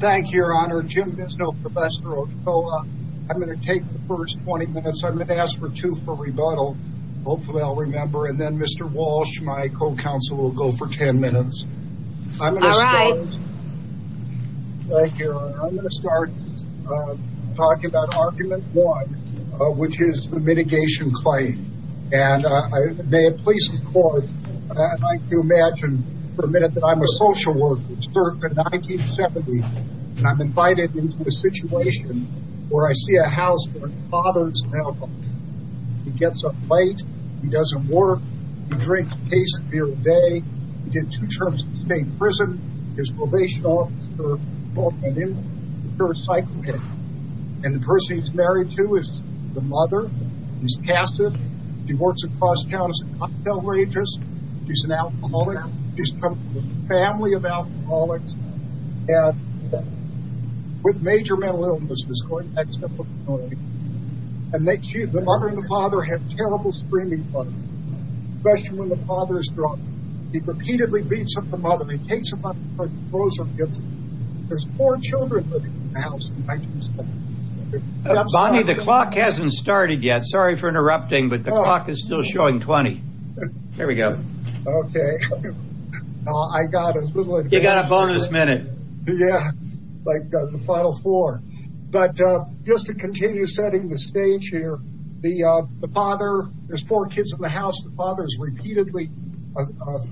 Thank Your Honor. Jim Dizno, Professor Ochoa. I'm going to take the first 20 minutes. I'm going to ask for two for rebuttal. Hopefully I'll remember. And then Mr. Walsh, my co-counsel, will go for 10 minutes. All right. Thank you, Your Honor. I'm going to start talking about Argument 1, which is the mitigation claim. And may it please the Court, I'd like to imagine for a minute that I'm a social worker. I was born in 1970, and I'm invited into a situation where I see a house where my father's now gone. He gets up late. He doesn't work. He drinks a case of beer a day. He did two terms in the same prison. His probation officer brought him in. And the person he's married to is the mother. She's passive. She works across town as a cocktail waitress. She's an alcoholic. She's come from a family of alcoholics. And with major mental illnesses, going back to the book of No Limits. And the mother and the father have terrible screaming problems, especially when the father is drunk. He repeatedly beats up the mother. He takes her money and tries to close her business. There's four children living in the house in 1970. Bonnie, the clock hasn't started yet. Sorry for interrupting, but the clock is still showing 20. There we go. Okay. You got a bonus minute. Yeah, like the final four. But just to continue setting the stage here, the father, there's four kids in the house. The father is repeatedly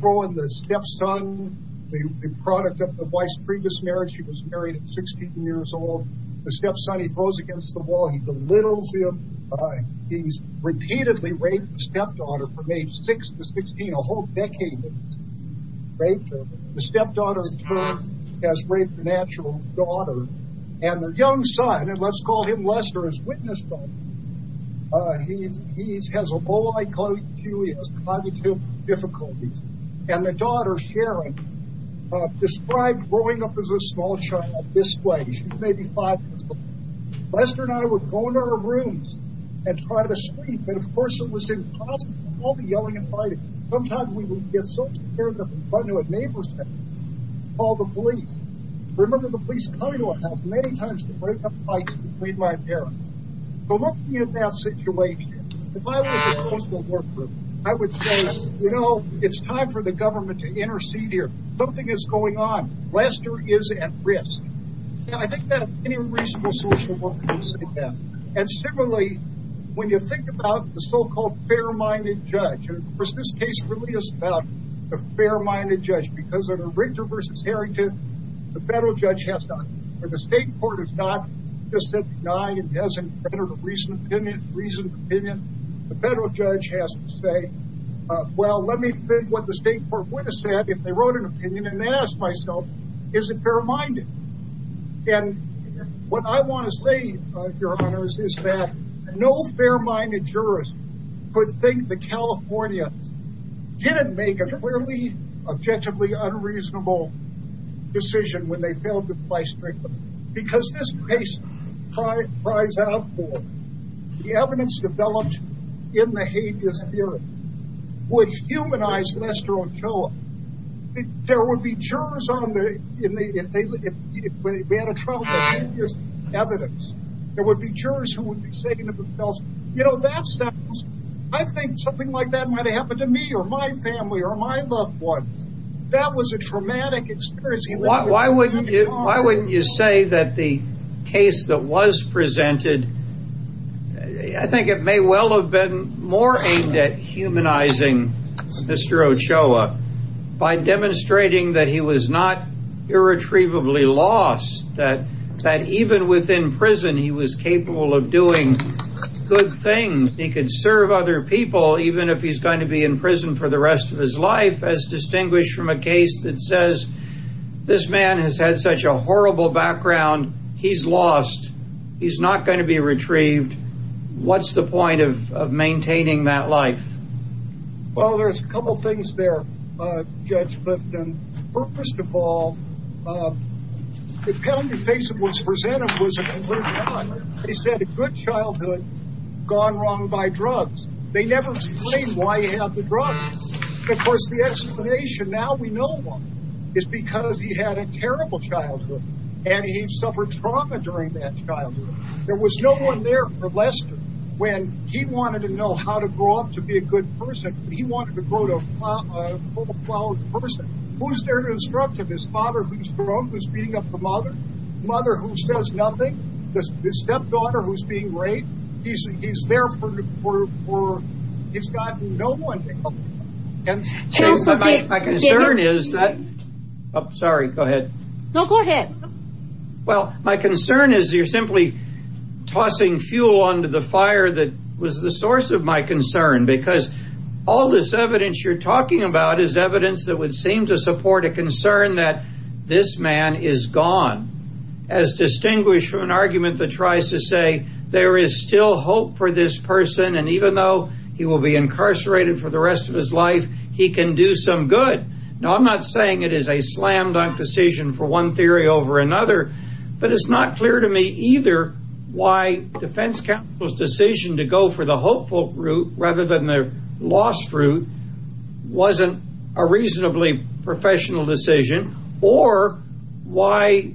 throwing the stepson, the product of the wife's previous marriage. She was married at 16 years old. The stepson, he throws against the wall. He belittles him. He's repeatedly raped the stepdaughter from age six to 16, a whole decade of rape. The stepdaughter, in turn, has raped the natural daughter. And the young son, and let's call him Lester as witness. He has a low IQ. He has cognitive difficulties. And the daughter, Sharon, described growing up as a small child this way. She's maybe five years old. Lester and I would go into our rooms and try to sleep. And, of course, it was impossible, all the yelling and fighting. Sometimes we would get so scared that we'd run to a neighbor's house and call the police. I remember the police coming to our house many times to break up fights between my parents. But looking at that situation, if I was a social worker, I would say, you know, it's time for the government to intercede here. Something is going on. Lester is at risk. And I think that any reasonable social worker would say that. And similarly, when you think about the so-called fair-minded judge, and, of course, this case really is about a fair-minded judge because of the Richter v. Harrington, the federal judge has to, or the state court has to, he just said he denied it. He hasn't entered a reasoned opinion. The federal judge has to say, well, let me think what the state court would have said if they wrote an opinion. And then ask myself, is it fair-minded? And what I want to say, Your Honors, is that no fair-minded jurist would think that California didn't make a clearly, objectively unreasonable decision when they failed to play straight. Because this case cries out for the evidence developed in the habeas theory, which humanized Lester Ochoa. There would be jurors on the, if we had a trial of the habeas evidence, there would be jurors who would be saying to themselves, you know, that sounds, I think something like that might have happened to me or my family or my loved ones. That was a traumatic experience. Why wouldn't you say that the case that was presented, I think it may well have been more aimed at humanizing Mr. Ochoa by demonstrating that he was not irretrievably lost, that even within prison he was capable of doing good things. He could serve other people, even if he's going to be in prison for the rest of his life, as distinguished from a case that says, this man has had such a horrible background, he's lost. He's not going to be retrieved. What's the point of maintaining that life? Well, there's a couple of things there, Judge Lifton. First of all, the penalty face that was presented was a complete lie. They said a good childhood gone wrong by drugs. They never explained why he had the drugs. Of course, the explanation, now we know why. It's because he had a terrible childhood, and he suffered trauma during that childhood. There was no one there for Lester when he wanted to know how to grow up to be a good person. He wanted to grow to a full-fledged person. Who's there to instruct him? His father who's grown, who's beating up the mother? Mother who says nothing? His stepdaughter who's being raped? He's there for, he's got no one to help him. My concern is that, sorry, go ahead. No, go ahead. Well, my concern is you're simply tossing fuel onto the fire that was the source of my concern, because all this evidence you're talking about is evidence that would seem to support a concern that this man is gone, as distinguished from an argument that tries to say there is still hope for this person, and even though he will be incarcerated for the rest of his life, he can do some good. Now, I'm not saying it is a slam-dunk decision for one theory over another, but it's not clear to me either why defense counsel's decision to go for the hopeful route rather than the lost route wasn't a reasonably professional decision, or why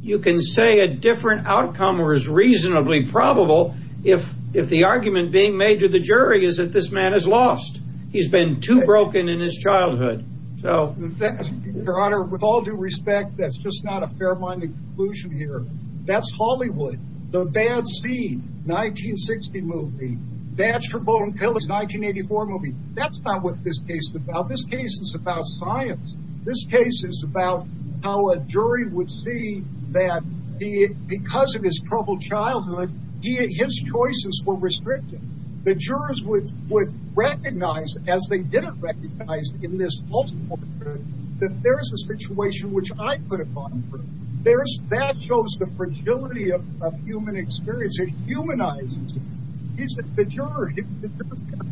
you can say a different outcome was reasonably probable if the argument being made to the jury is that this man is lost. He's been too broken in his childhood. Your Honor, with all due respect, that's just not a fair-minded conclusion here. That's Hollywood. The Bad Seed, 1960 movie. Badger, Bone Killer, 1984 movie. That's not what this case is about. This case is about science. This case is about how a jury would see that because of his troubled childhood, his choices were restricted. The jurors would recognize, as they didn't recognize in this multiple jury, that there is a situation which I could have gotten through. That shows the fragility of human experience. It humanizes it. The jurors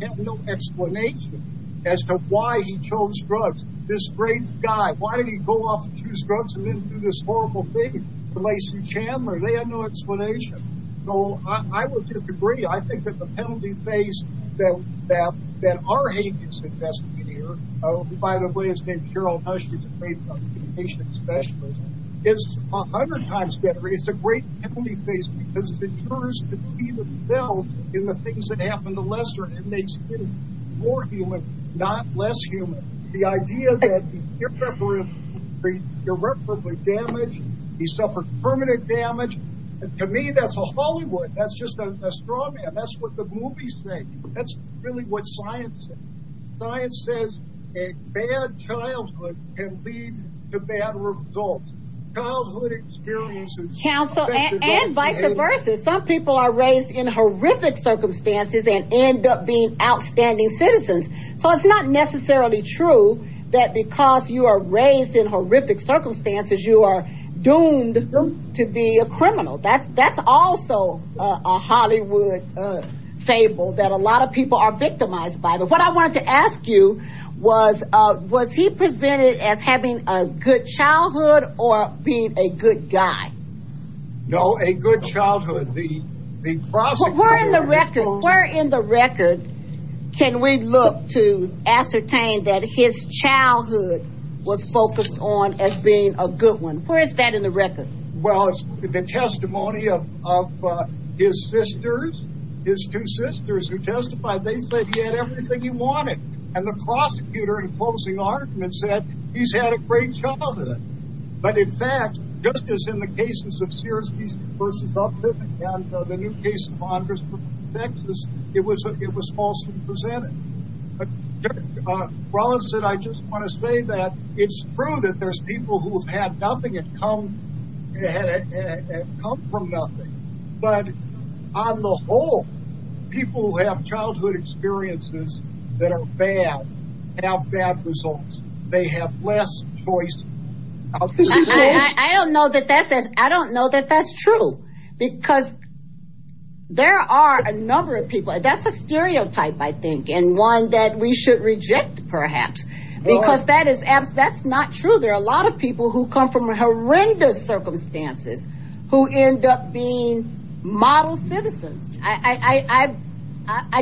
have no explanation as to why he chose drugs. This great guy, why did he go off and choose drugs and then do this horrible thing? Lacey Chandler, they have no explanation. So I would disagree. I think that the penalty faced that our hate is invested in here, by the way, his name is Harold Husch. He's a great patient specialist. It's 100 times better. It's a great penalty faced because the jurors can see themselves in the things that happen to lesser inmates. It's more human, not less human. The idea that he's irreparably damaged, he suffered permanent damage, to me that's a Hollywood. That's just a straw man. That's what the movies say. That's really what science says. Science says a bad childhood can lead to bad results. Childhood experiences. And vice versa. Some people are raised in horrific circumstances and end up being outstanding citizens. So it's not necessarily true that because you are raised in horrific circumstances, you are doomed to be a criminal. That's also a Hollywood fable that a lot of people are victimized by. What I wanted to ask you was, was he presented as having a good childhood or being a good guy? No, a good childhood. Where in the record can we look to ascertain that his childhood was focused on as being a good one? Where is that in the record? Well, the testimony of his sisters, his two sisters who testified, they said he had everything he wanted. And the prosecutor in closing argument said he's had a great childhood. But, in fact, just as in the cases of Sears v. Uplift and the new case of Honders v. Texas, it was falsely presented. Rollins said, I just want to say that it's true that there's people who have had nothing and come from nothing. But, on the whole, people who have childhood experiences that are bad have bad results. They have less choice. I don't know that that's true because there are a number of people. That's a stereotype, I think, and one that we should reject, perhaps, because that's not true. There are a lot of people who come from horrendous circumstances who end up being model citizens. I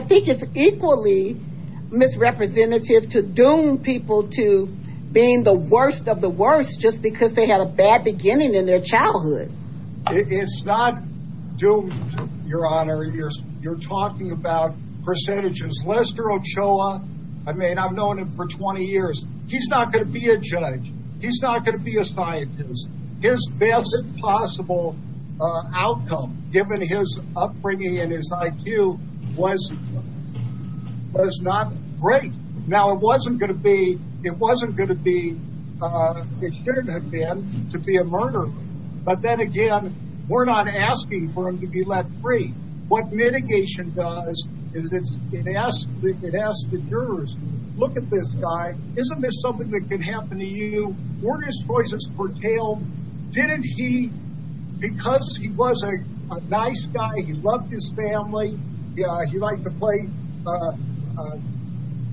think it's equally misrepresentative to doom people to being the worst of the worst just because they had a bad beginning in their childhood. It's not doomed, Your Honor. You're talking about percentages. Lester Ochoa, I mean, I've known him for 20 years. He's not going to be a judge. He's not going to be a scientist. His best possible outcome, given his upbringing and his IQ, was not great. Now, it wasn't going to be, it shouldn't have been, to be a murderer. But, then again, we're not asking for him to be let free. What mitigation does is it asks the jurors, look at this guy. Isn't this something that can happen to you? Weren't his choices curtailed? Didn't he, because he was a nice guy, he loved his family, he liked to play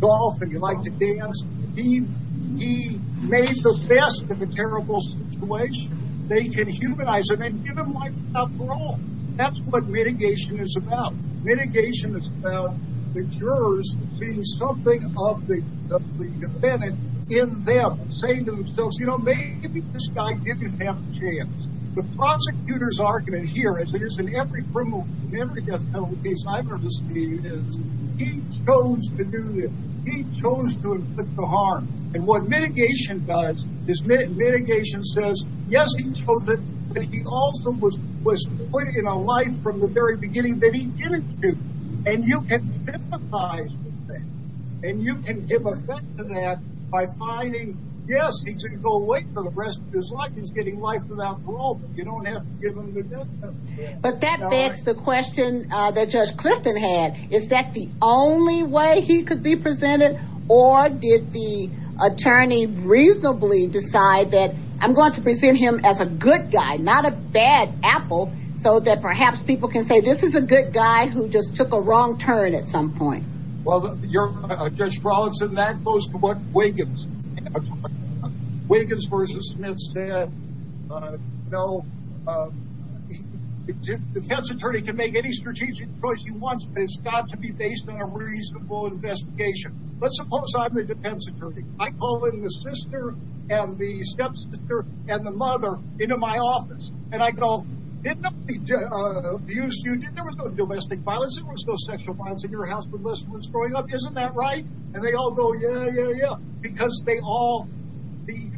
golf and he liked to dance, he made the best of a terrible situation. They can humanize him and give him life after all. That's what mitigation is about. Mitigation is about the jurors seeing something of the defendant in them, saying to themselves, you know, maybe this guy didn't have a chance. The prosecutor's argument here, as it is in every criminal, in every death penalty case I've ever seen, is he chose to do this. He chose to inflict the harm. And what mitigation does is mitigation says, yes, he chose it, but he also was put in a life from the very beginning that he didn't choose. And you can sympathize with that. And you can give effect to that by finding, yes, he can go away for the rest of his life. He's getting life without parole, but you don't have to give him the death penalty. But that begs the question that Judge Clifton had. Is that the only way he could be presented, or did the attorney reasonably decide that I'm going to present him as a good guy, not a bad apple, so that perhaps people can say this is a good guy who just took a wrong turn at some point? Well, Judge Frolickson, that goes to what Wiggins versus Smith said. You know, a defense attorney can make any strategic choice he wants, but it's got to be based on a reasonable investigation. Let's suppose I'm the defense attorney. I call in the sister and the step-sister and the mother into my office, and I go, didn't nobody abuse you? There was no domestic violence. There was no sexual violence in your house when Lester was growing up. Isn't that right? And they all go, yeah, yeah, yeah, because they all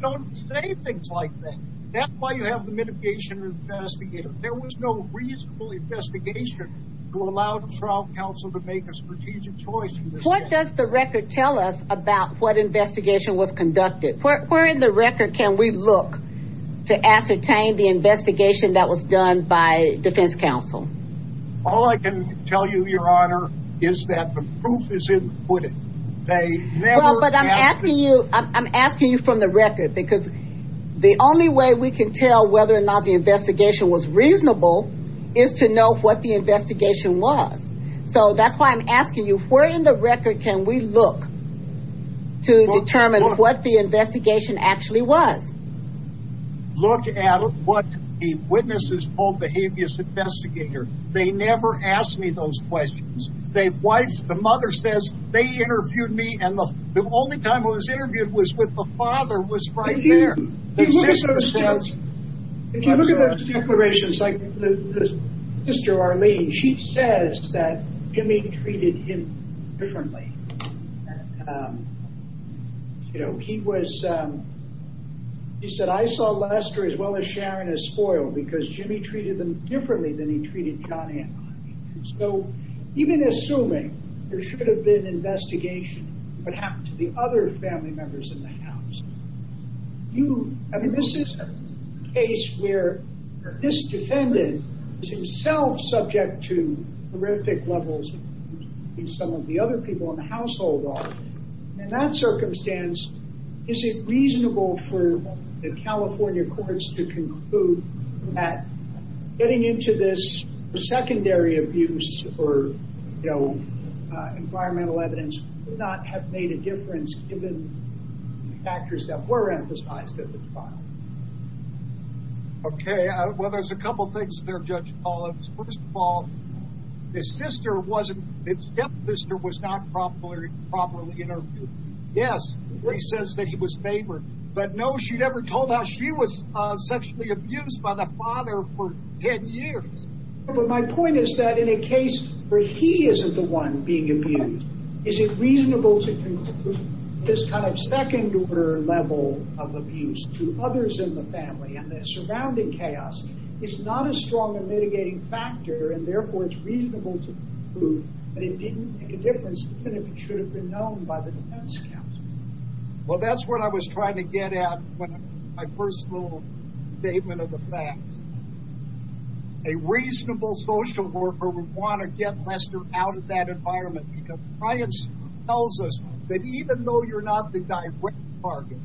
don't say things like that. That's why you have the mitigation investigator. There was no reasonable investigation to allow the trial counsel to make a strategic choice. What does the record tell us about what investigation was conducted? Where in the record can we look to ascertain the investigation that was done by defense counsel? All I can tell you, Your Honor, is that the proof is in the pudding. Well, but I'm asking you from the record, because the only way we can tell whether or not the investigation was reasonable is to know what the investigation was. So that's why I'm asking you, where in the record can we look to determine what the investigation actually was? Look at what the witnesses told the habeas investigator. They never ask me those questions. The mother says they interviewed me, and the only time I was interviewed was with the father was right there. The sister says... If you look at those declarations, like the sister, Arlene, she says that Jimmy treated him differently. She said, I saw Lester as well as Sharon as spoiled, because Jimmy treated them differently than he treated Connie and Connie. So even assuming there should have been investigation of what happened to the other family members in the house, you... I mean, this is a case where this defendant is himself subject to horrific levels of abuse that some of the other people in the household are. In that circumstance, is it reasonable for the California courts to conclude that getting into this for secondary abuse or, you know, environmental evidence would not have made a difference given the factors that were emphasized in the trial? Okay, well, there's a couple things there, Judge Collins. First of all, this sister wasn't... The step-sister was not properly interviewed. Yes, she says that he was favored, but no, she never told how she was sexually abused by the father for 10 years. But my point is that in a case where he isn't the one being abused, is it reasonable to conclude this kind of second-order level of abuse to others in the family and the surrounding chaos is not a strong and mitigating factor, and therefore it's reasonable to conclude that it didn't make a difference even if it should have been known by the defense counsel. Well, that's what I was trying to get at with my first little statement of the fact. A reasonable social worker would want to get Lester out of that environment because science tells us that even though you're not the direct target,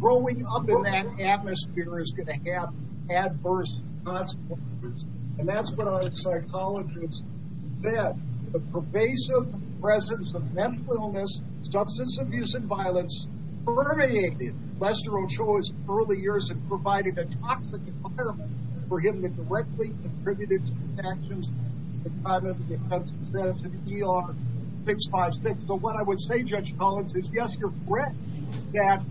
growing up in that atmosphere is going to have adverse consequences. And that's what our psychologists said. The pervasive presence of mental illness, substance abuse, and violence permeated Lester Ochoa's early years and provided a toxic environment for him that directly contributed to his actions. So what I would say, Judge Collins, is yes, you're correct that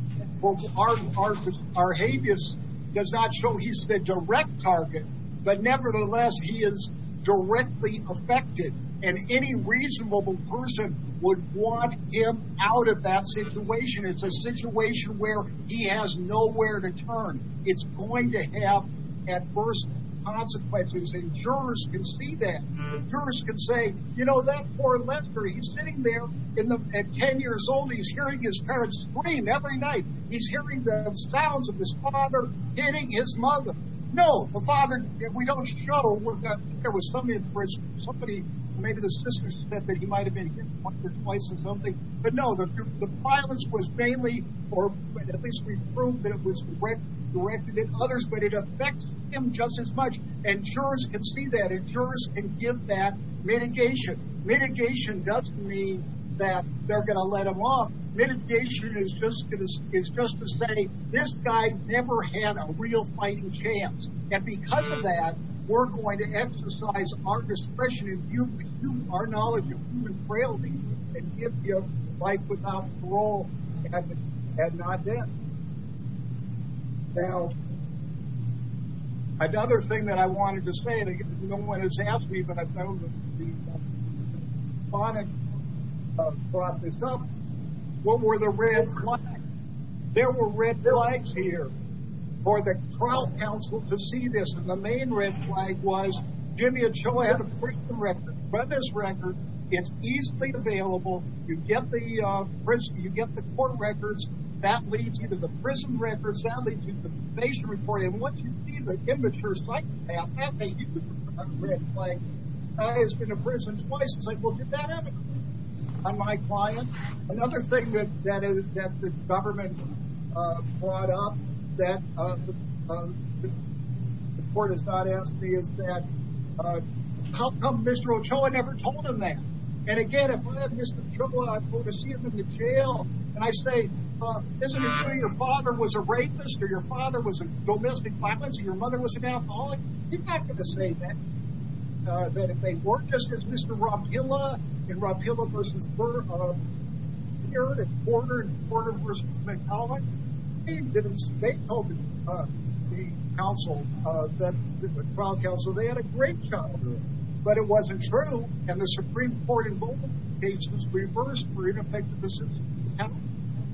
our habeas does not show he's the direct target, but nevertheless he is directly affected, and any reasonable person would want him out of that situation. It's a situation where he has nowhere to turn. It's going to have adverse consequences, and jurors can see that. Jurors can say, you know, that poor Lester, he's sitting there at 10 years old, he's hearing his parents scream every night. He's hearing the sounds of his father hitting his mother. No, the father, we don't show that there was some interest. Maybe the sister said that he might have been hit once or twice or something. But no, the violence was mainly, or at least we've proved that it was directed at others, but it affects him just as much. And jurors can see that, and jurors can give that mitigation. Mitigation doesn't mean that they're going to let him off. Mitigation is just to say, this guy never had a real fighting chance, and because of that, we're going to exercise our discretion and our knowledge of human frailty and give you life without parole, and not death. Now, another thing that I wanted to say, and no one has asked me, but I've known that the electronic brought this up, what were the red flags? There were red flags here for the trial counsel to see this, and the main red flag was, Jimmy and Joe had a prison record. But this record is easily available. You get the court records. That leads you to the prison records. That leads you to the probation report. And once you see the immature psychopath has a red flag, has been to prison twice, it's like, well, did that happen on my client? Another thing that the government brought up that the court has not asked me is that, how come Mr. Ochoa never told him that? And, again, if I have Mr. Ochoa and I go to see him in the jail and I say, well, isn't it true your father was a rapist or your father was a domestic violence and your mother was an alcoholic? He's not going to say that, that if they weren't just as Mr. Rapilla in Rapilla v. Byrd and Porter and Porter v. McCulloch, they didn't see. They told the trial counsel they had a great childhood. But it wasn't true. And the Supreme Court in both cases reversed for ineffective decisions.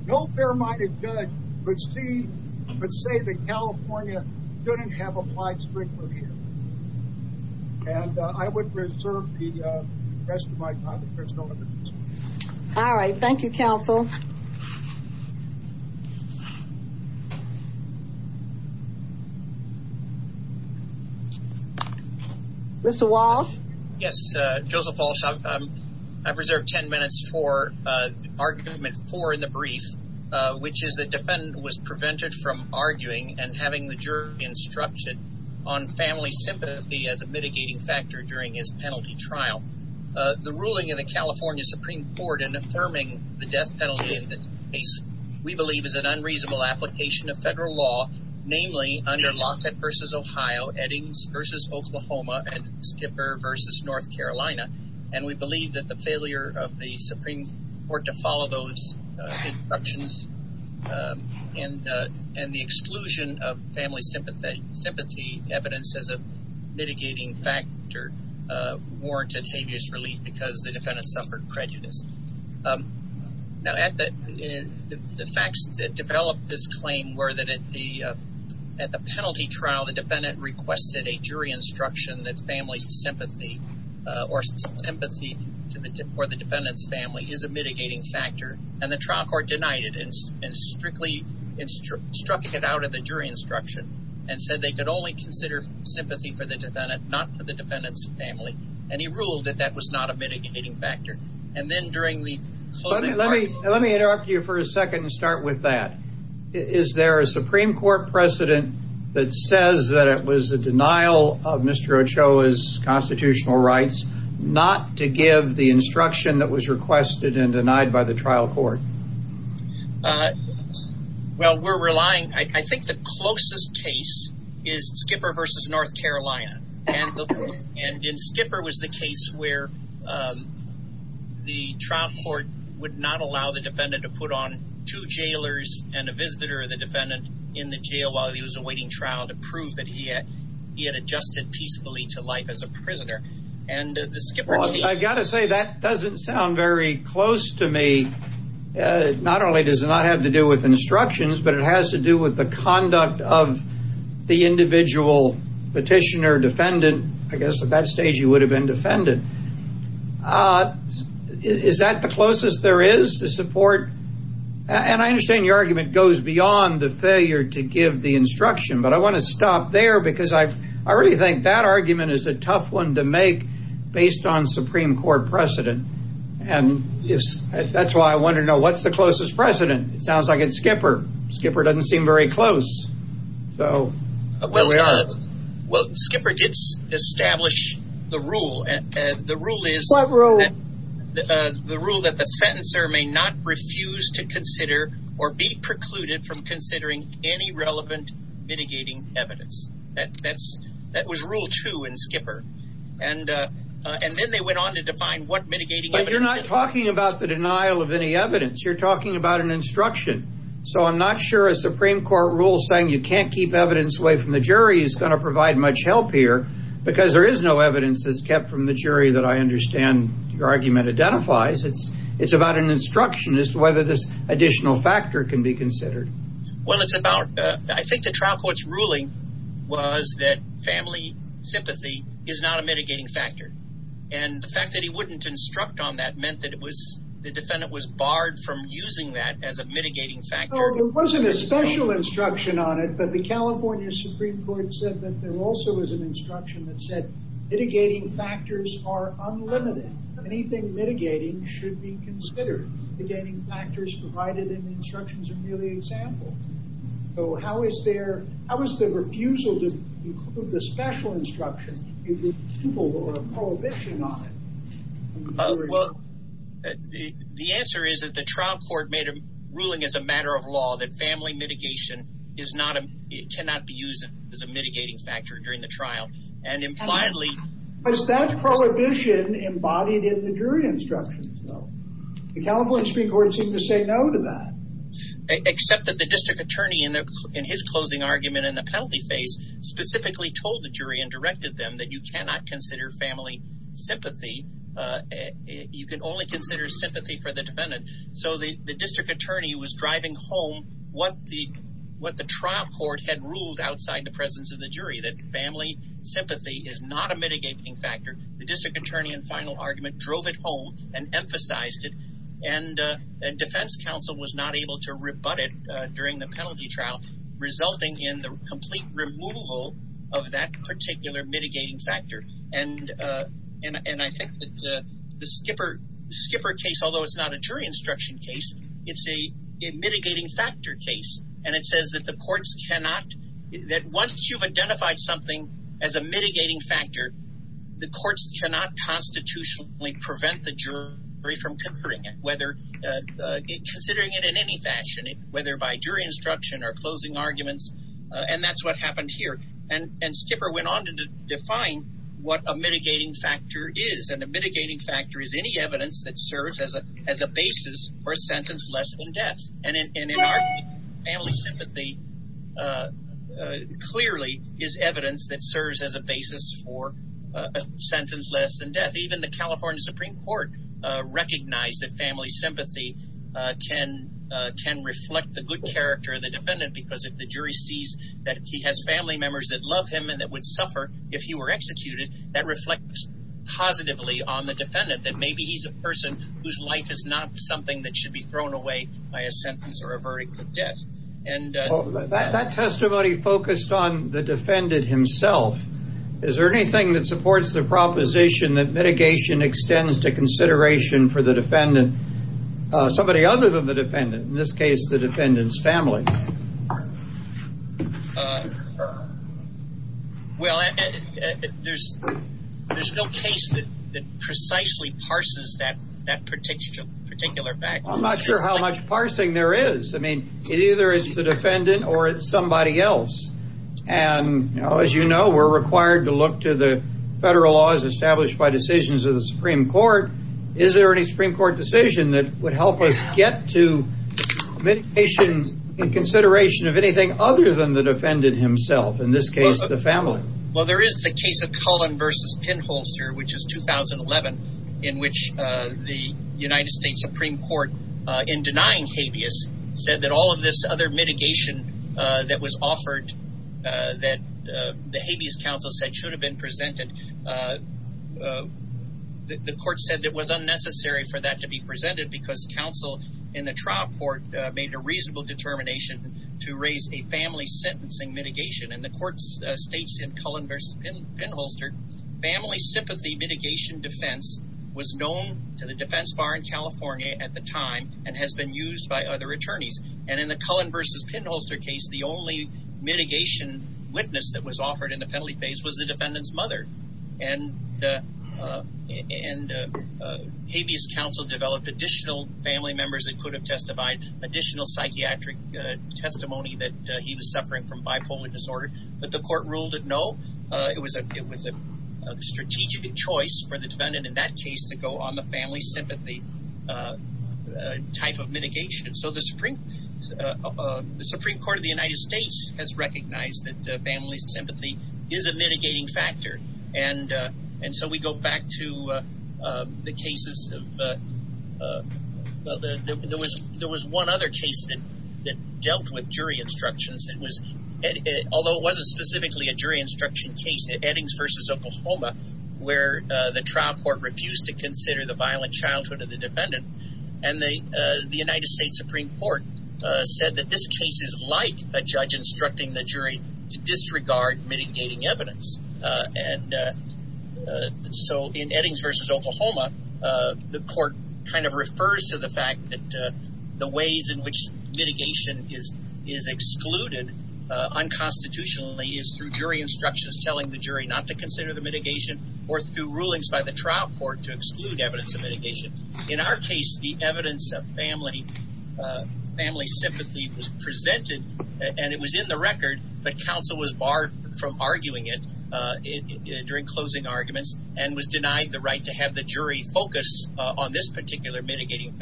No fair-minded judge would say that California shouldn't have applied strictly here. And I would reserve the rest of my time. All right. Thank you, counsel. Mr. Walsh? Yes. Joseph Walsh. I've reserved ten minutes for argument four in the brief, which is the defendant was prevented from arguing and having the jury instructed on family sympathy as a mitigating factor during his penalty trial. The ruling in the California Supreme Court in affirming the death penalty in this case we believe is an unreasonable application of federal law, namely under Lockett v. Ohio, Eddings v. Oklahoma, and Skipper v. North Carolina. And we believe that the failure of the Supreme Court to follow those instructions and the exclusion of family sympathy evidence as a mitigating factor warranted habeas relief because the defendant suffered prejudice. Now, the facts that developed this claim were that at the penalty trial, the defendant requested a jury instruction that family sympathy or sympathy for the defendant's family is a mitigating factor, and the trial court denied it and strictly struck it out of the jury instruction and said they could only consider sympathy for the defendant, not for the defendant's family. And he ruled that that was not a mitigating factor. And then during the closing argument. Let me interrupt you for a second and start with that. Is there a Supreme Court precedent that says that it was a denial of Mr. Ochoa's constitutional rights not to give the instruction that was requested and denied by the trial court? Well, we're relying. I think the closest case is Skipper v. North Carolina. And in Skipper was the case where the trial court would not allow the defendant to put on two jailers and a visitor of the defendant in the jail while he was awaiting trial to prove that he had adjusted peacefully to life as a prisoner. And the Skipper v. I've got to say that doesn't sound very close to me. Not only does it not have to do with instructions, but it has to do with the conduct of the individual petitioner defendant. I guess at that stage he would have been defended. Is that the closest there is to support? And I understand your argument goes beyond the failure to give the instruction, but I want to stop there because I really think that argument is a tough one to make based on Supreme Court precedent. And that's why I want to know what's the closest precedent. It sounds like it's Skipper. Skipper doesn't seem very close. Well, Skipper did establish the rule. The rule is the rule that the sentencer may not refuse to consider or be precluded from considering any relevant mitigating evidence. That was rule two in Skipper. And then they went on to define what mitigating evidence. But you're not talking about the denial of any evidence. You're talking about an instruction. So I'm not sure a Supreme Court rule saying you can't keep evidence away from the jury is going to provide much help here because there is no evidence that's kept from the jury that I understand your argument identifies. It's about an instruction as to whether this additional factor can be considered. Well, it's about I think the trial court's ruling was that family sympathy is not a mitigating factor. And the fact that he wouldn't instruct on that meant that it was the defendant was barred from using that as a mitigating factor. There wasn't a special instruction on it, but the California Supreme Court said that there also was an instruction that said mitigating factors are unlimited. Anything mitigating should be considered. The gating factors provided in the instructions are merely examples. So how is there how is the refusal to include the special instruction or prohibition on it? Well, the answer is that the trial court made a ruling as a matter of law that family mitigation cannot be used as a mitigating factor during the trial. And impliedly... Was that prohibition embodied in the jury instructions though? The California Supreme Court seemed to say no to that. Except that the district attorney in his closing argument in the penalty phase specifically told the jury and directed them that you cannot consider family sympathy you can only consider sympathy for the defendant. So the district attorney was driving home what the trial court had ruled outside the presence of the jury. That family sympathy is not a mitigating factor. The district attorney in final argument drove it home and emphasized it. And defense counsel was not able to rebut it during the penalty trial resulting in the complete removal of that particular mitigating factor. And I think that the Skipper case, although it's not a jury instruction case, it's a mitigating factor case. And it says that the courts cannot... That once you've identified something as a mitigating factor, the courts cannot constitutionally prevent the jury from considering it. Whether... Considering it in any fashion. Whether by jury instruction or closing arguments. And that's what happened here. And Skipper went on to define what a mitigating factor is. And a mitigating factor is any evidence that serves as a basis for a sentence less than death. And in our case, family sympathy clearly is evidence that serves as a basis for a sentence less than death. Even the California Supreme Court recognized that family sympathy can reflect the good character of the defendant because if the jury sees that he has family members that love him and that would suffer if he were executed, that reflects positively on the defendant. That maybe he's a person whose life is not something that should be thrown away by a sentence or a verdict of death. That testimony focused on the defendant himself. Is there anything that supports the proposition that mitigation extends to consideration for the defendant, somebody other than the defendant? In this case, the defendant's family. Well, there's no case that precisely parses that particular fact. I'm not sure how much parsing there is. I mean, it either is the defendant or it's somebody else. And as you know, we're required to look to the federal laws established by decisions of the Supreme Court. Is there any Supreme Court decision that would help us get to mitigation in consideration of anything other than the defendant himself? In this case, the family. Well, there is the case of Cullen v. Pinholzer, which is 2011, in which the United States Supreme Court, in denying habeas, said that all of this other mitigation that was offered, that the habeas counsel said should have been presented, the court said it was unnecessary for that to be presented because counsel in the trial court made a reasonable determination to raise a family sentencing mitigation. And the court states in Cullen v. Pinholzer, family sympathy mitigation defense was known to the defense bar in California at the time and has been used by other attorneys. And in the Cullen v. Pinholzer case, the only mitigation witness that was offered in the penalty phase was the defendant's mother. And habeas counsel developed additional family members that could have testified, additional psychiatric testimony that he was suffering from bipolar disorder. But the court ruled it no. It was a strategic choice for the defendant in that case to go on the family sympathy type of mitigation. So the Supreme Court of the United States has recognized that family sympathy is a mitigating factor. And so we go back to the cases of, well, there was one other case that dealt with jury instructions. It was, although it wasn't specifically a jury instruction case, Eddings v. Oklahoma, where the trial court refused to consider the violent childhood of the defendant. And the United States Supreme Court said that this case is like a judge instructing the jury to disregard mitigating evidence. And so in Eddings v. Oklahoma, the court kind of refers to the fact that the ways in which mitigation is excluded unconstitutionally is through jury instructions, telling the jury not to consider the mitigation or through rulings by the trial court to exclude evidence of mitigation. In our case, the evidence of family sympathy was presented and it was in the record, but counsel was barred from arguing it during closing arguments and was denied the right to have the jury focus on this particular mitigating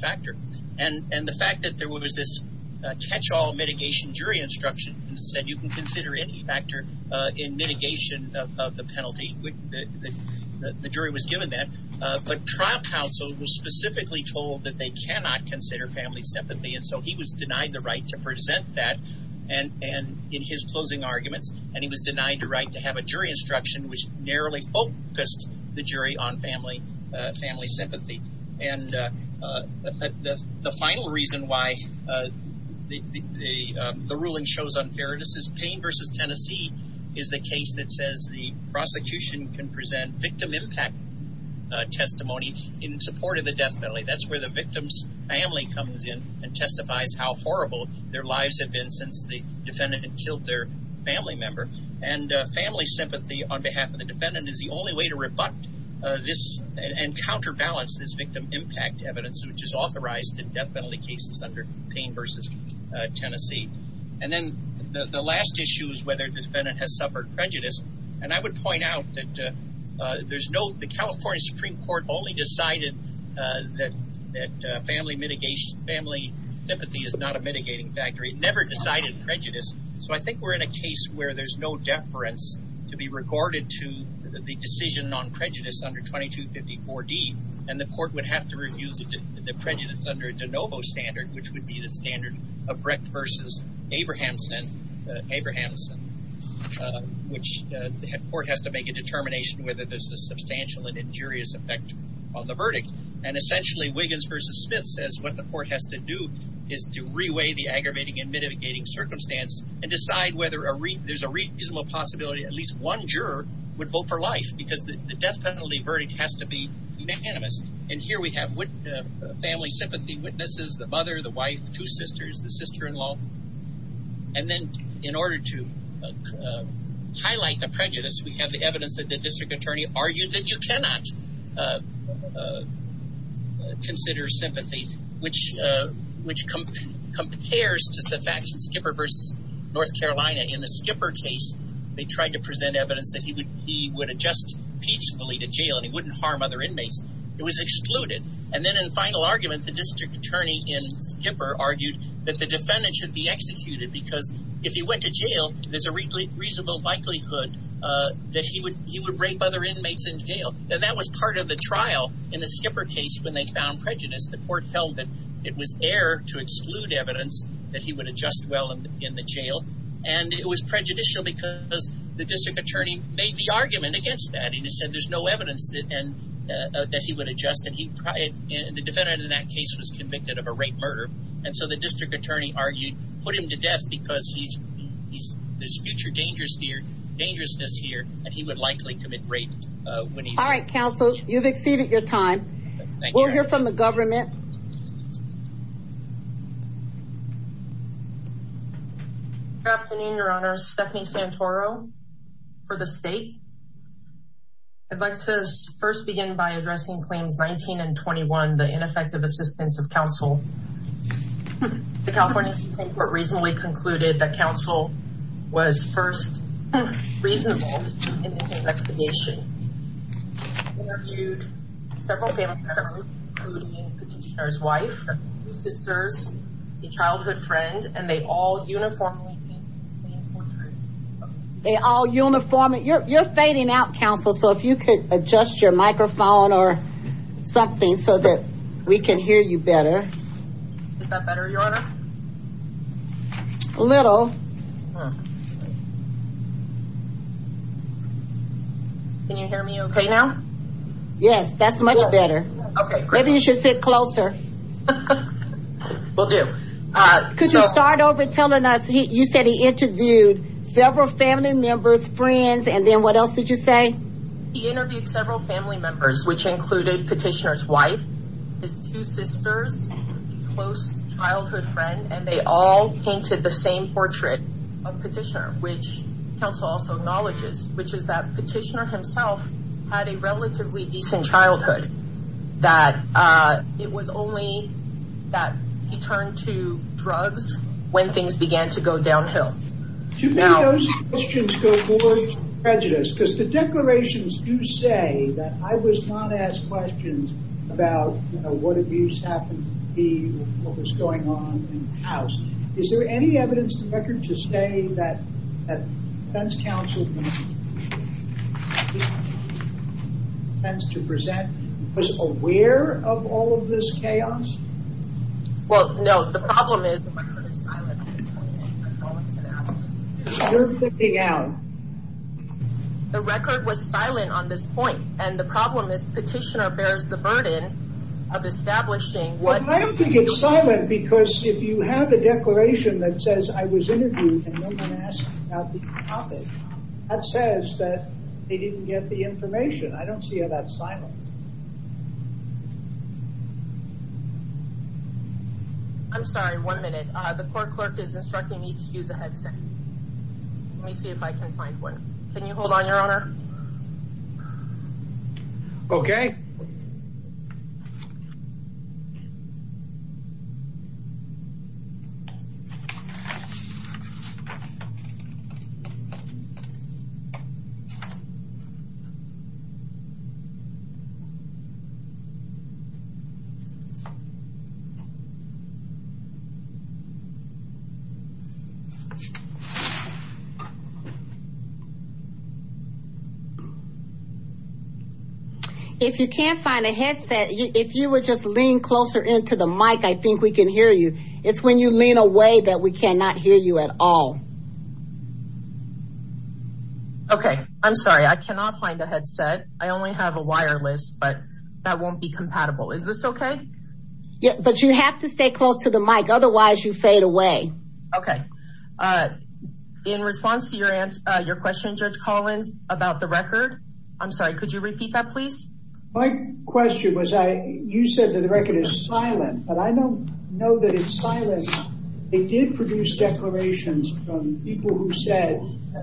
factor. And the fact that there was this catch-all mitigation jury instruction that said you can consider any factor in mitigation of the penalty, the jury was given that. But trial counsel was specifically told that they cannot consider family sympathy. And so he was denied the right to present that and in his closing arguments, and he was denied the right to have a jury instruction which narrowly focused the jury on family sympathy. And the final reason why the ruling shows unfairness is Payne v. Tennessee is the case that says the prosecution can present victim impact testimony in support of the death penalty. That's where the victim's family comes in and testifies how horrible their lives have been since the defendant had killed their family member. And family sympathy on behalf of the defendant is the only way to rebut this and counterbalance this victim impact evidence which is authorized in death penalty cases under Payne v. Tennessee. And then the last issue is whether the defendant has suffered prejudice. And I would point out that there's no – the California Supreme Court only decided that family mitigation – family sympathy is not a mitigating factor. It never decided prejudice. So I think we're in a case where there's no deference to be regarded to the decision on prejudice under 2254D. And the court would have to review the prejudice under De Novo standard, which would be the standard of Brecht v. Abrahamson, which the court has to make a determination whether there's a substantial and injurious effect on the verdict. And essentially Wiggins v. Smith says what the court has to do is to reweigh the aggravating and mitigating circumstance and decide whether there's a reasonable possibility at least one juror would vote for life because the death penalty verdict has to be unanimous. And here we have family sympathy witnesses, the mother, the wife, two sisters, the sister-in-law. And then in order to highlight the prejudice, we have the evidence that the district attorney argued that you cannot consider sympathy, which compares to the fact that Skipper v. North Carolina in the Skipper case, they tried to present evidence that he would adjust peacefully to jail and he wouldn't harm other inmates. It was excluded. And then in the final argument, the district attorney in Skipper argued that the defendant should be executed because if he went to jail, there's a reasonable likelihood that he would rape other inmates in jail. And that was part of the trial in the Skipper case when they found prejudice. The court held that it was air to exclude evidence that he would adjust well in the jail. And it was prejudicial because the district attorney made the argument against that. He said there's no evidence that he would adjust. And the defendant in that case was convicted of a rape murder. And so the district attorney argued put him to death because there's future dangerousness here and he would likely commit rape. All right, counsel, you've exceeded your time. We'll hear from the government. Good afternoon, Your Honor. Stephanie Santoro for the state. I'd like to first begin by addressing claims 19 and 21, the ineffective assistance of counsel. The California Supreme Court recently concluded that counsel was first reasonable in this investigation. They interviewed several family members, including the petitioner's wife, two sisters, a childhood friend, and they all uniformly made the same point. They all uniformly. You're fading out, counsel, so if you could adjust your microphone or something so that we can hear you better. Is that better, Your Honor? A little. Can you hear me OK now? Yes, that's much better. Maybe you should sit closer. We'll do. Could you start over telling us, you said he interviewed several family members, friends, and then what else did you say? He interviewed several family members, which included petitioner's wife, his two sisters, a close childhood friend, and they all painted the same portrait of petitioner, which counsel also acknowledges, which is that petitioner himself had a relatively decent childhood, that it was only that he turned to drugs when things began to go downhill. To me, those questions go more to prejudice, because the declarations do say that I was not asked questions about, you know, what abuse happened to me, what was going on in the house. Is there any evidence to the record to say that defense counsel was aware of all of this chaos? Well, no, the problem is the record is silent on this point. You're freaking out. The record was silent on this point, and the problem is petitioner bears the burden of establishing what... I don't think it's silent, because if you have a declaration that says I was interviewed and no one asked about the topic, I don't see how that's silent. I'm sorry, one minute. The court clerk is instructing me to use a headset. Let me see if I can find one. Can you hold on, Your Honor? Okay. If you can't find a headset, if you would just lean closer into the mic, I think we can hear you. It's when you lean away that we cannot hear you at all. Okay. I'm sorry. I cannot find a headset. I only have a wireless, but that won't be compatible. Is this okay? Yeah, but you have to stay close to the mic, otherwise you fade away. Okay. In response to your question, Judge Collins, about the record, I'm sorry, could you repeat that, please? My question was you said that the record is silent, but I don't know that it's silent. It did produce declarations from people who said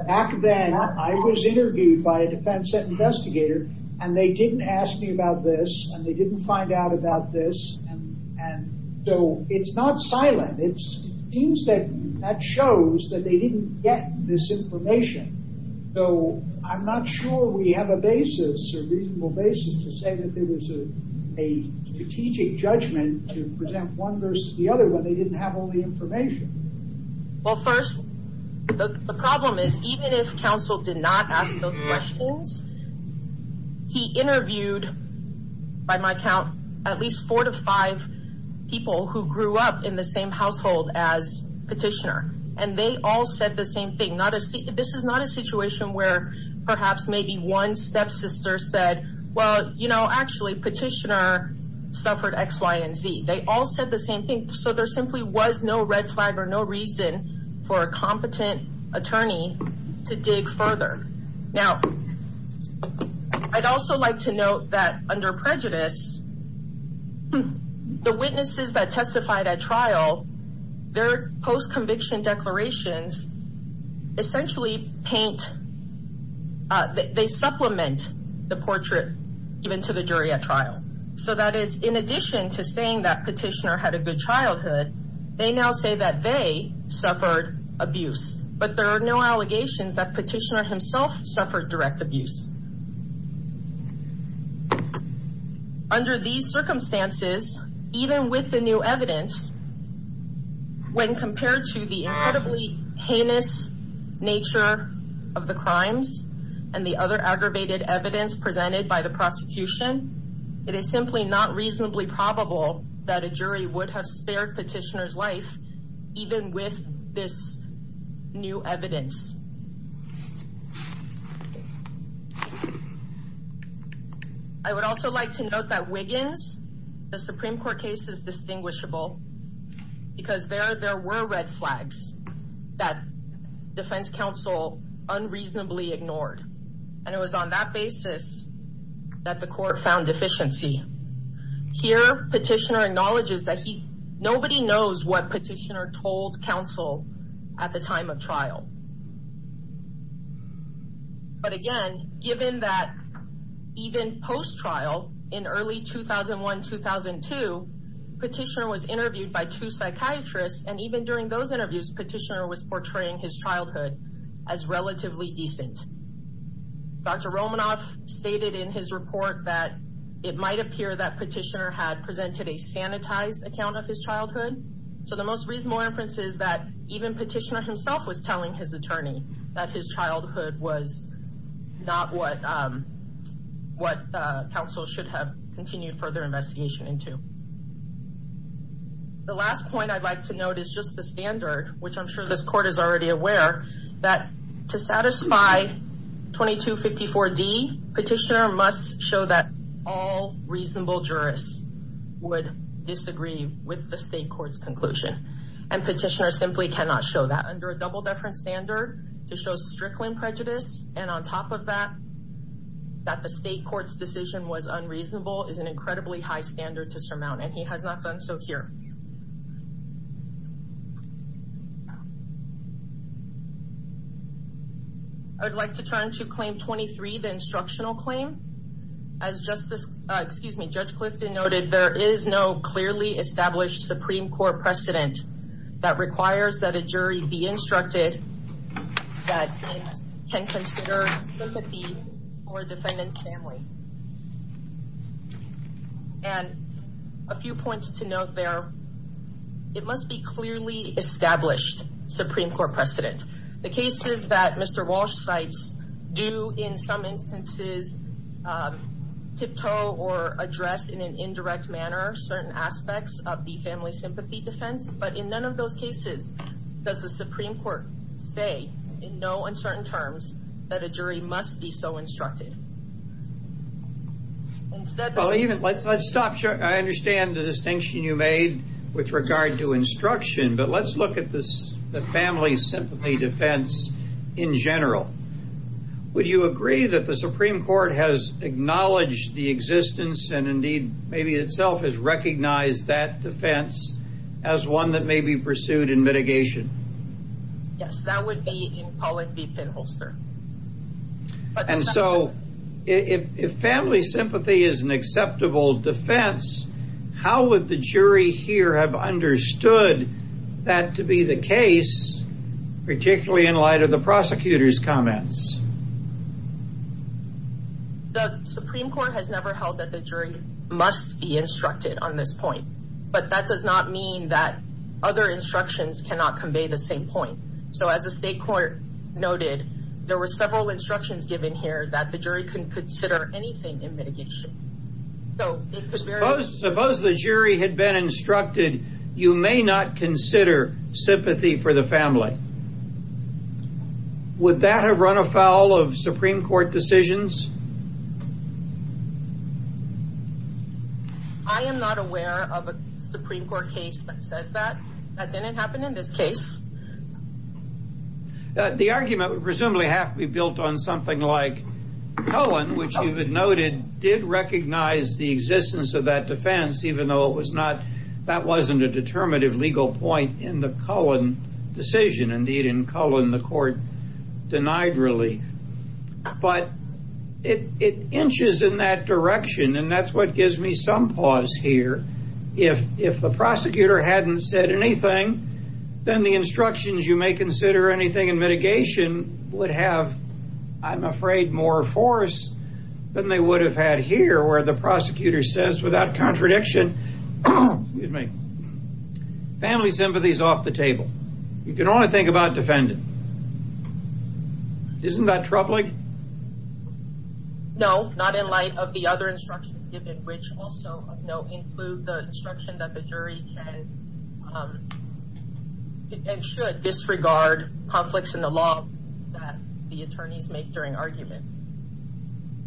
back then I was interviewed by a defense investigator, and they didn't ask me about this, and they didn't find out about this, and so it's not silent. It seems that that shows that they didn't get this information, so I'm not sure we have a basis or reasonable basis to say that there was a strategic judgment to present one versus the other when they didn't have all the information. Well, first, the problem is even if counsel did not ask those questions, he interviewed, by my count, at least four to five people who grew up in the same household as Petitioner, and they all said the same thing. This is not a situation where perhaps maybe one stepsister said, well, you know, actually, Petitioner suffered X, Y, and Z. They all said the same thing, so there simply was no red flag or no reason for a competent attorney to dig further. Now, I'd also like to note that under prejudice, the witnesses that testified at trial, their post-conviction declarations essentially paint, they supplement the portrait even to the jury at trial. So that is in addition to saying that Petitioner had a good childhood, they now say that they suffered abuse, but there are no allegations that Petitioner himself suffered direct abuse. Under these circumstances, even with the new evidence, when compared to the incredibly heinous nature of the crimes and the other aggravated evidence presented by the prosecution, it is simply not reasonably probable that a jury would have spared Petitioner's life even with this new evidence. I would also like to note that Wiggins, the Supreme Court case is distinguishable because there were red flags that defense counsel unreasonably ignored, and it was on that basis that the court found deficiency. Here, Petitioner acknowledges that nobody knows what Petitioner told counsel at the time of trial. But again, given that even post-trial, in early 2001-2002, Petitioner was interviewed by two psychiatrists, and even during those interviews, Petitioner was portraying his childhood as relatively decent. Dr. Romanoff stated in his report that it might appear that Petitioner had presented a sanitized account of his childhood, so the most reasonable inference is that even Petitioner himself was telling his attorney that his childhood was not what counsel should have continued further investigation into. The last point I'd like to note is just the standard, which I'm sure this court is already aware, that to satisfy 2254D, Petitioner must show that all reasonable jurists would disagree with the state court's conclusion, and Petitioner simply cannot show that. Under a double-deference standard, to show strickling prejudice, and on top of that, that the state court's decision was unreasonable is an incredibly high standard to surmount, and he has not done so here. I would like to turn to Claim 23, the Instructional Claim. As Judge Clifton noted, there is no clearly established Supreme Court precedent that requires that a jury be instructed that it can consider sympathy for a defendant's family. And a few points to note there, it must be clearly established Supreme Court precedent. The cases that Mr. Walsh cites do in some instances tiptoe or address in an indirect manner certain aspects of the family sympathy defense, but in none of those cases does the Supreme Court say in no uncertain terms that a jury must be so instructed. Let's stop here. I understand the distinction you made with regard to instruction, but let's look at the family sympathy defense in general. Would you agree that the Supreme Court has acknowledged the existence, and indeed maybe itself has recognized that defense as one that may be pursued in mitigation? Yes, that would be in politbypinholster. And so if family sympathy is an acceptable defense, how would the jury here have understood that to be the case, particularly in light of the prosecutor's comments? The Supreme Court has never held that the jury must be instructed on this point, but that does not mean that other instructions cannot convey the same point. So as the State Court noted, there were several instructions given here that the jury couldn't consider anything in mitigation. Suppose the jury had been instructed, you may not consider sympathy for the family. Would that have run afoul of Supreme Court decisions? I am not aware of a Supreme Court case that says that. That didn't happen in this case. The argument would presumably have to be built on something like Cullen, which you had noted did recognize the existence of that defense, even though that wasn't a determinative legal point in the Cullen decision. Indeed, in Cullen, the court denied relief. But it inches in that direction, and that's what gives me some pause here. If the prosecutor hadn't said anything, then the instructions, you may consider anything in mitigation, would have, I'm afraid, more force than they would have had here, where the prosecutor says without contradiction, family sympathy is off the table. Isn't that troubling? No, not in light of the other instructions given, which also include the instruction that the jury can and should disregard conflicts in the law that the attorneys make during argument.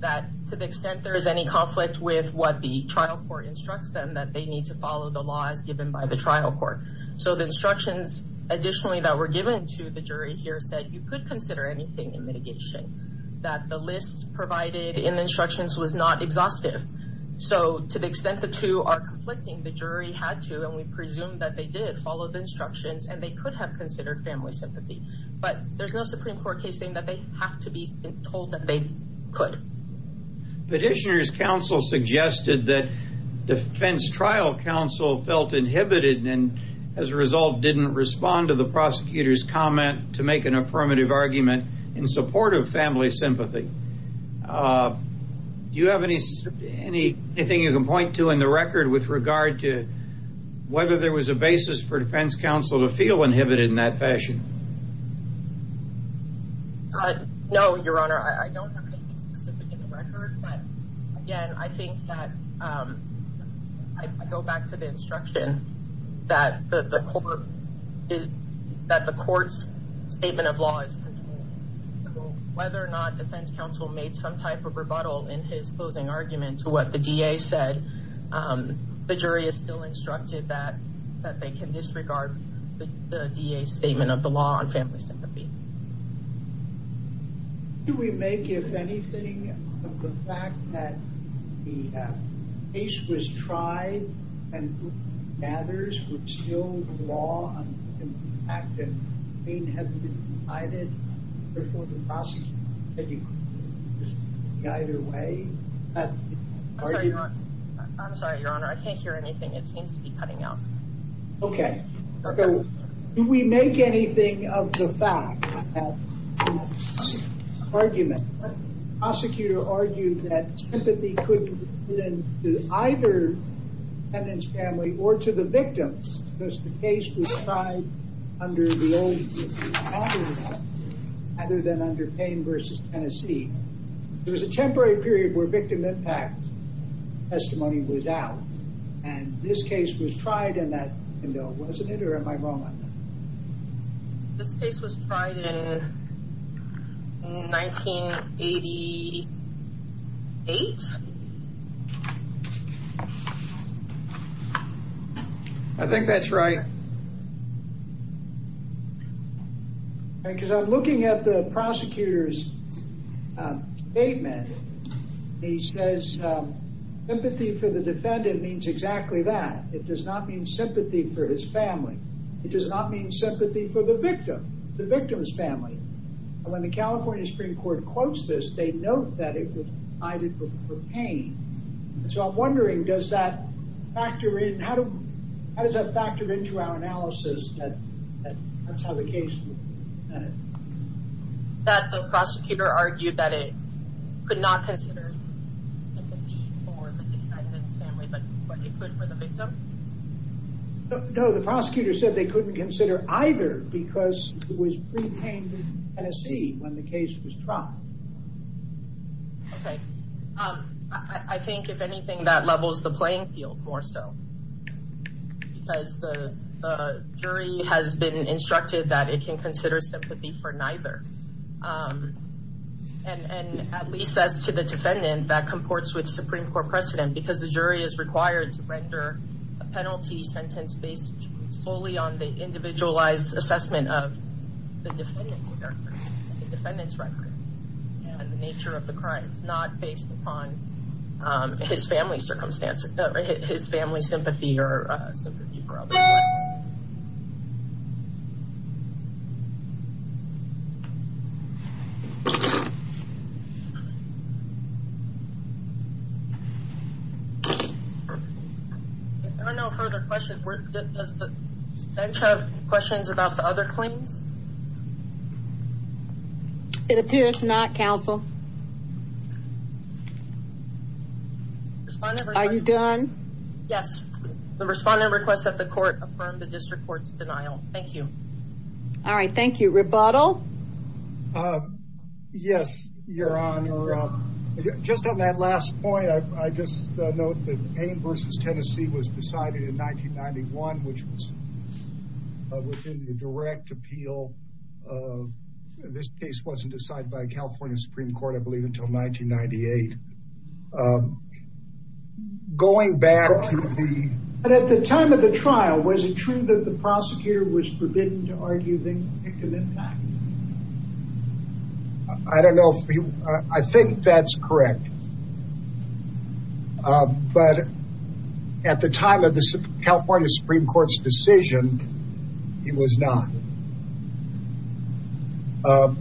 That to the extent there is any conflict with what the trial court instructs them, that they need to follow the laws given by the trial court. So the instructions, additionally, that were given to the jury here said that you could consider anything in mitigation, that the list provided in the instructions was not exhaustive. So to the extent the two are conflicting, the jury had to, and we presume that they did follow the instructions, and they could have considered family sympathy. But there's no Supreme Court case saying that they have to be told that they could. Petitioner's counsel suggested that defense trial counsel felt inhibited and as a result didn't respond to the prosecutor's comment to make an affirmative argument in support of family sympathy. Do you have anything you can point to in the record with regard to whether there was a basis for defense counsel to feel inhibited in that fashion? No, Your Honor, I don't have anything specific in the record, but again, I think that, I go back to the instruction that the court, that the court's statement of law is, whether or not defense counsel made some type of rebuttal in his closing argument to what the DA said, the jury is still instructed that, that they can disregard the DA's statement of the law on family sympathy. Do we make, if anything, of the fact that the case was tried and who matters was still the law on family sympathy, the fact that pain hasn't been decided, therefore the prosecutor can't make a decision either way? I'm sorry, Your Honor, I can't hear anything. It seems to be cutting out. Okay. Do we make anything of the fact that in that argument, the prosecutor argued that sympathy couldn't be given to either the defendant's family or to the victim, because the case was tried under the old, rather than under Pain v. Tennessee. There was a temporary period where victim impact testimony was out, and this case was tried in that window, wasn't it, or am I wrong on that? This case was tried in 1988? I think that's right. Because I'm looking at the prosecutor's statement. He says sympathy for the defendant means exactly that. It does not mean sympathy for his family. It does not mean sympathy for the victim, the victim's family. When the California Supreme Court quotes this, they note that it was decided for pain. So I'm wondering, how does that factor into our analysis that that's how the case was decided? That the prosecutor argued that it could not consider sympathy for the defendant's family, but it could for the victim? No, the prosecutor said they couldn't consider either because it was pre-Pain v. Tennessee when the case was tried. Okay. I think, if anything, that levels the playing field more so, because the jury has been instructed that it can consider sympathy for neither. And at least as to the defendant, that comports with Supreme Court precedent, because the jury is required to render a penalty sentence based solely on the individualized assessment of the defendant's record and the nature of the crime. It's not based upon his family's sympathy for others. If there are no further questions, does the bench have questions about the other claims? It appears not, counsel. Are you done? Yes. The respondent requests that the court affirm the district court's denial. Thank you. All right. Thank you. Rebuttal? Yes, Your Honor. Just on that last point, I just note that Pain v. Tennessee was decided in 1991, which was within the direct appeal. This case wasn't decided by the California Supreme Court, I believe, until 1998. Going back to the... But at the time of the trial, was it true that the prosecutor was forbidden to argue the victim impact? I don't know if you... I think that's correct. But at the time of the California Supreme Court's decision, it was not. I'll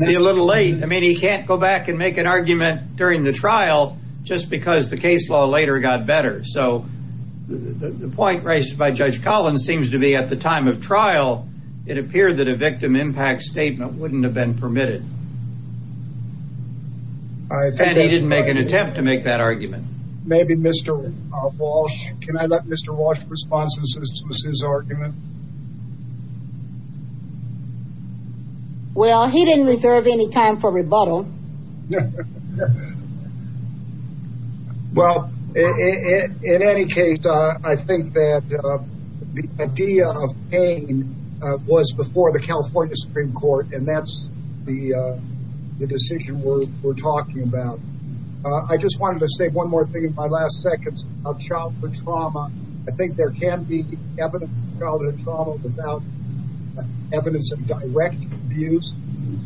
be a little late. I mean, he can't go back and make an argument during the trial just because the case law later got better. So the point raised by Judge Collins seems to be at the time of trial, it appeared that a victim impact statement wouldn't have been permitted. And he didn't make an attempt to make that argument. Maybe Mr. Walsh... Can I let Mr. Walsh respond since this was his argument? Well, he didn't reserve any time for rebuttal. No. Well, in any case, I think that the idea of pain was before the California Supreme Court, and that's the decision we're talking about. I just wanted to say one more thing in my last seconds about childhood trauma. I think there can be evidence of childhood trauma without evidence of direct abuse.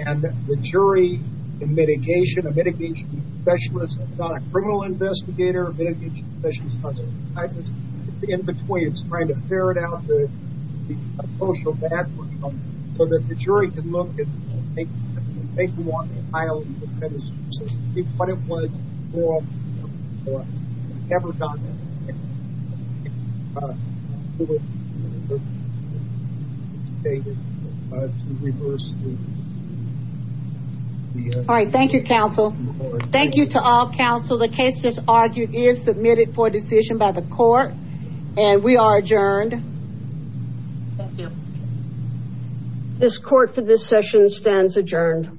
And the jury in mitigation, a mitigation specialist, not a criminal investigator, a mitigation specialist, in between trying to ferret out the social backwards so that the jury can look and think what it was before. I've never done that. All right. Thank you, counsel. Thank you to all counsel. The case that's argued is submitted for decision by the court, and we are adjourned. This court for this session stands adjourned.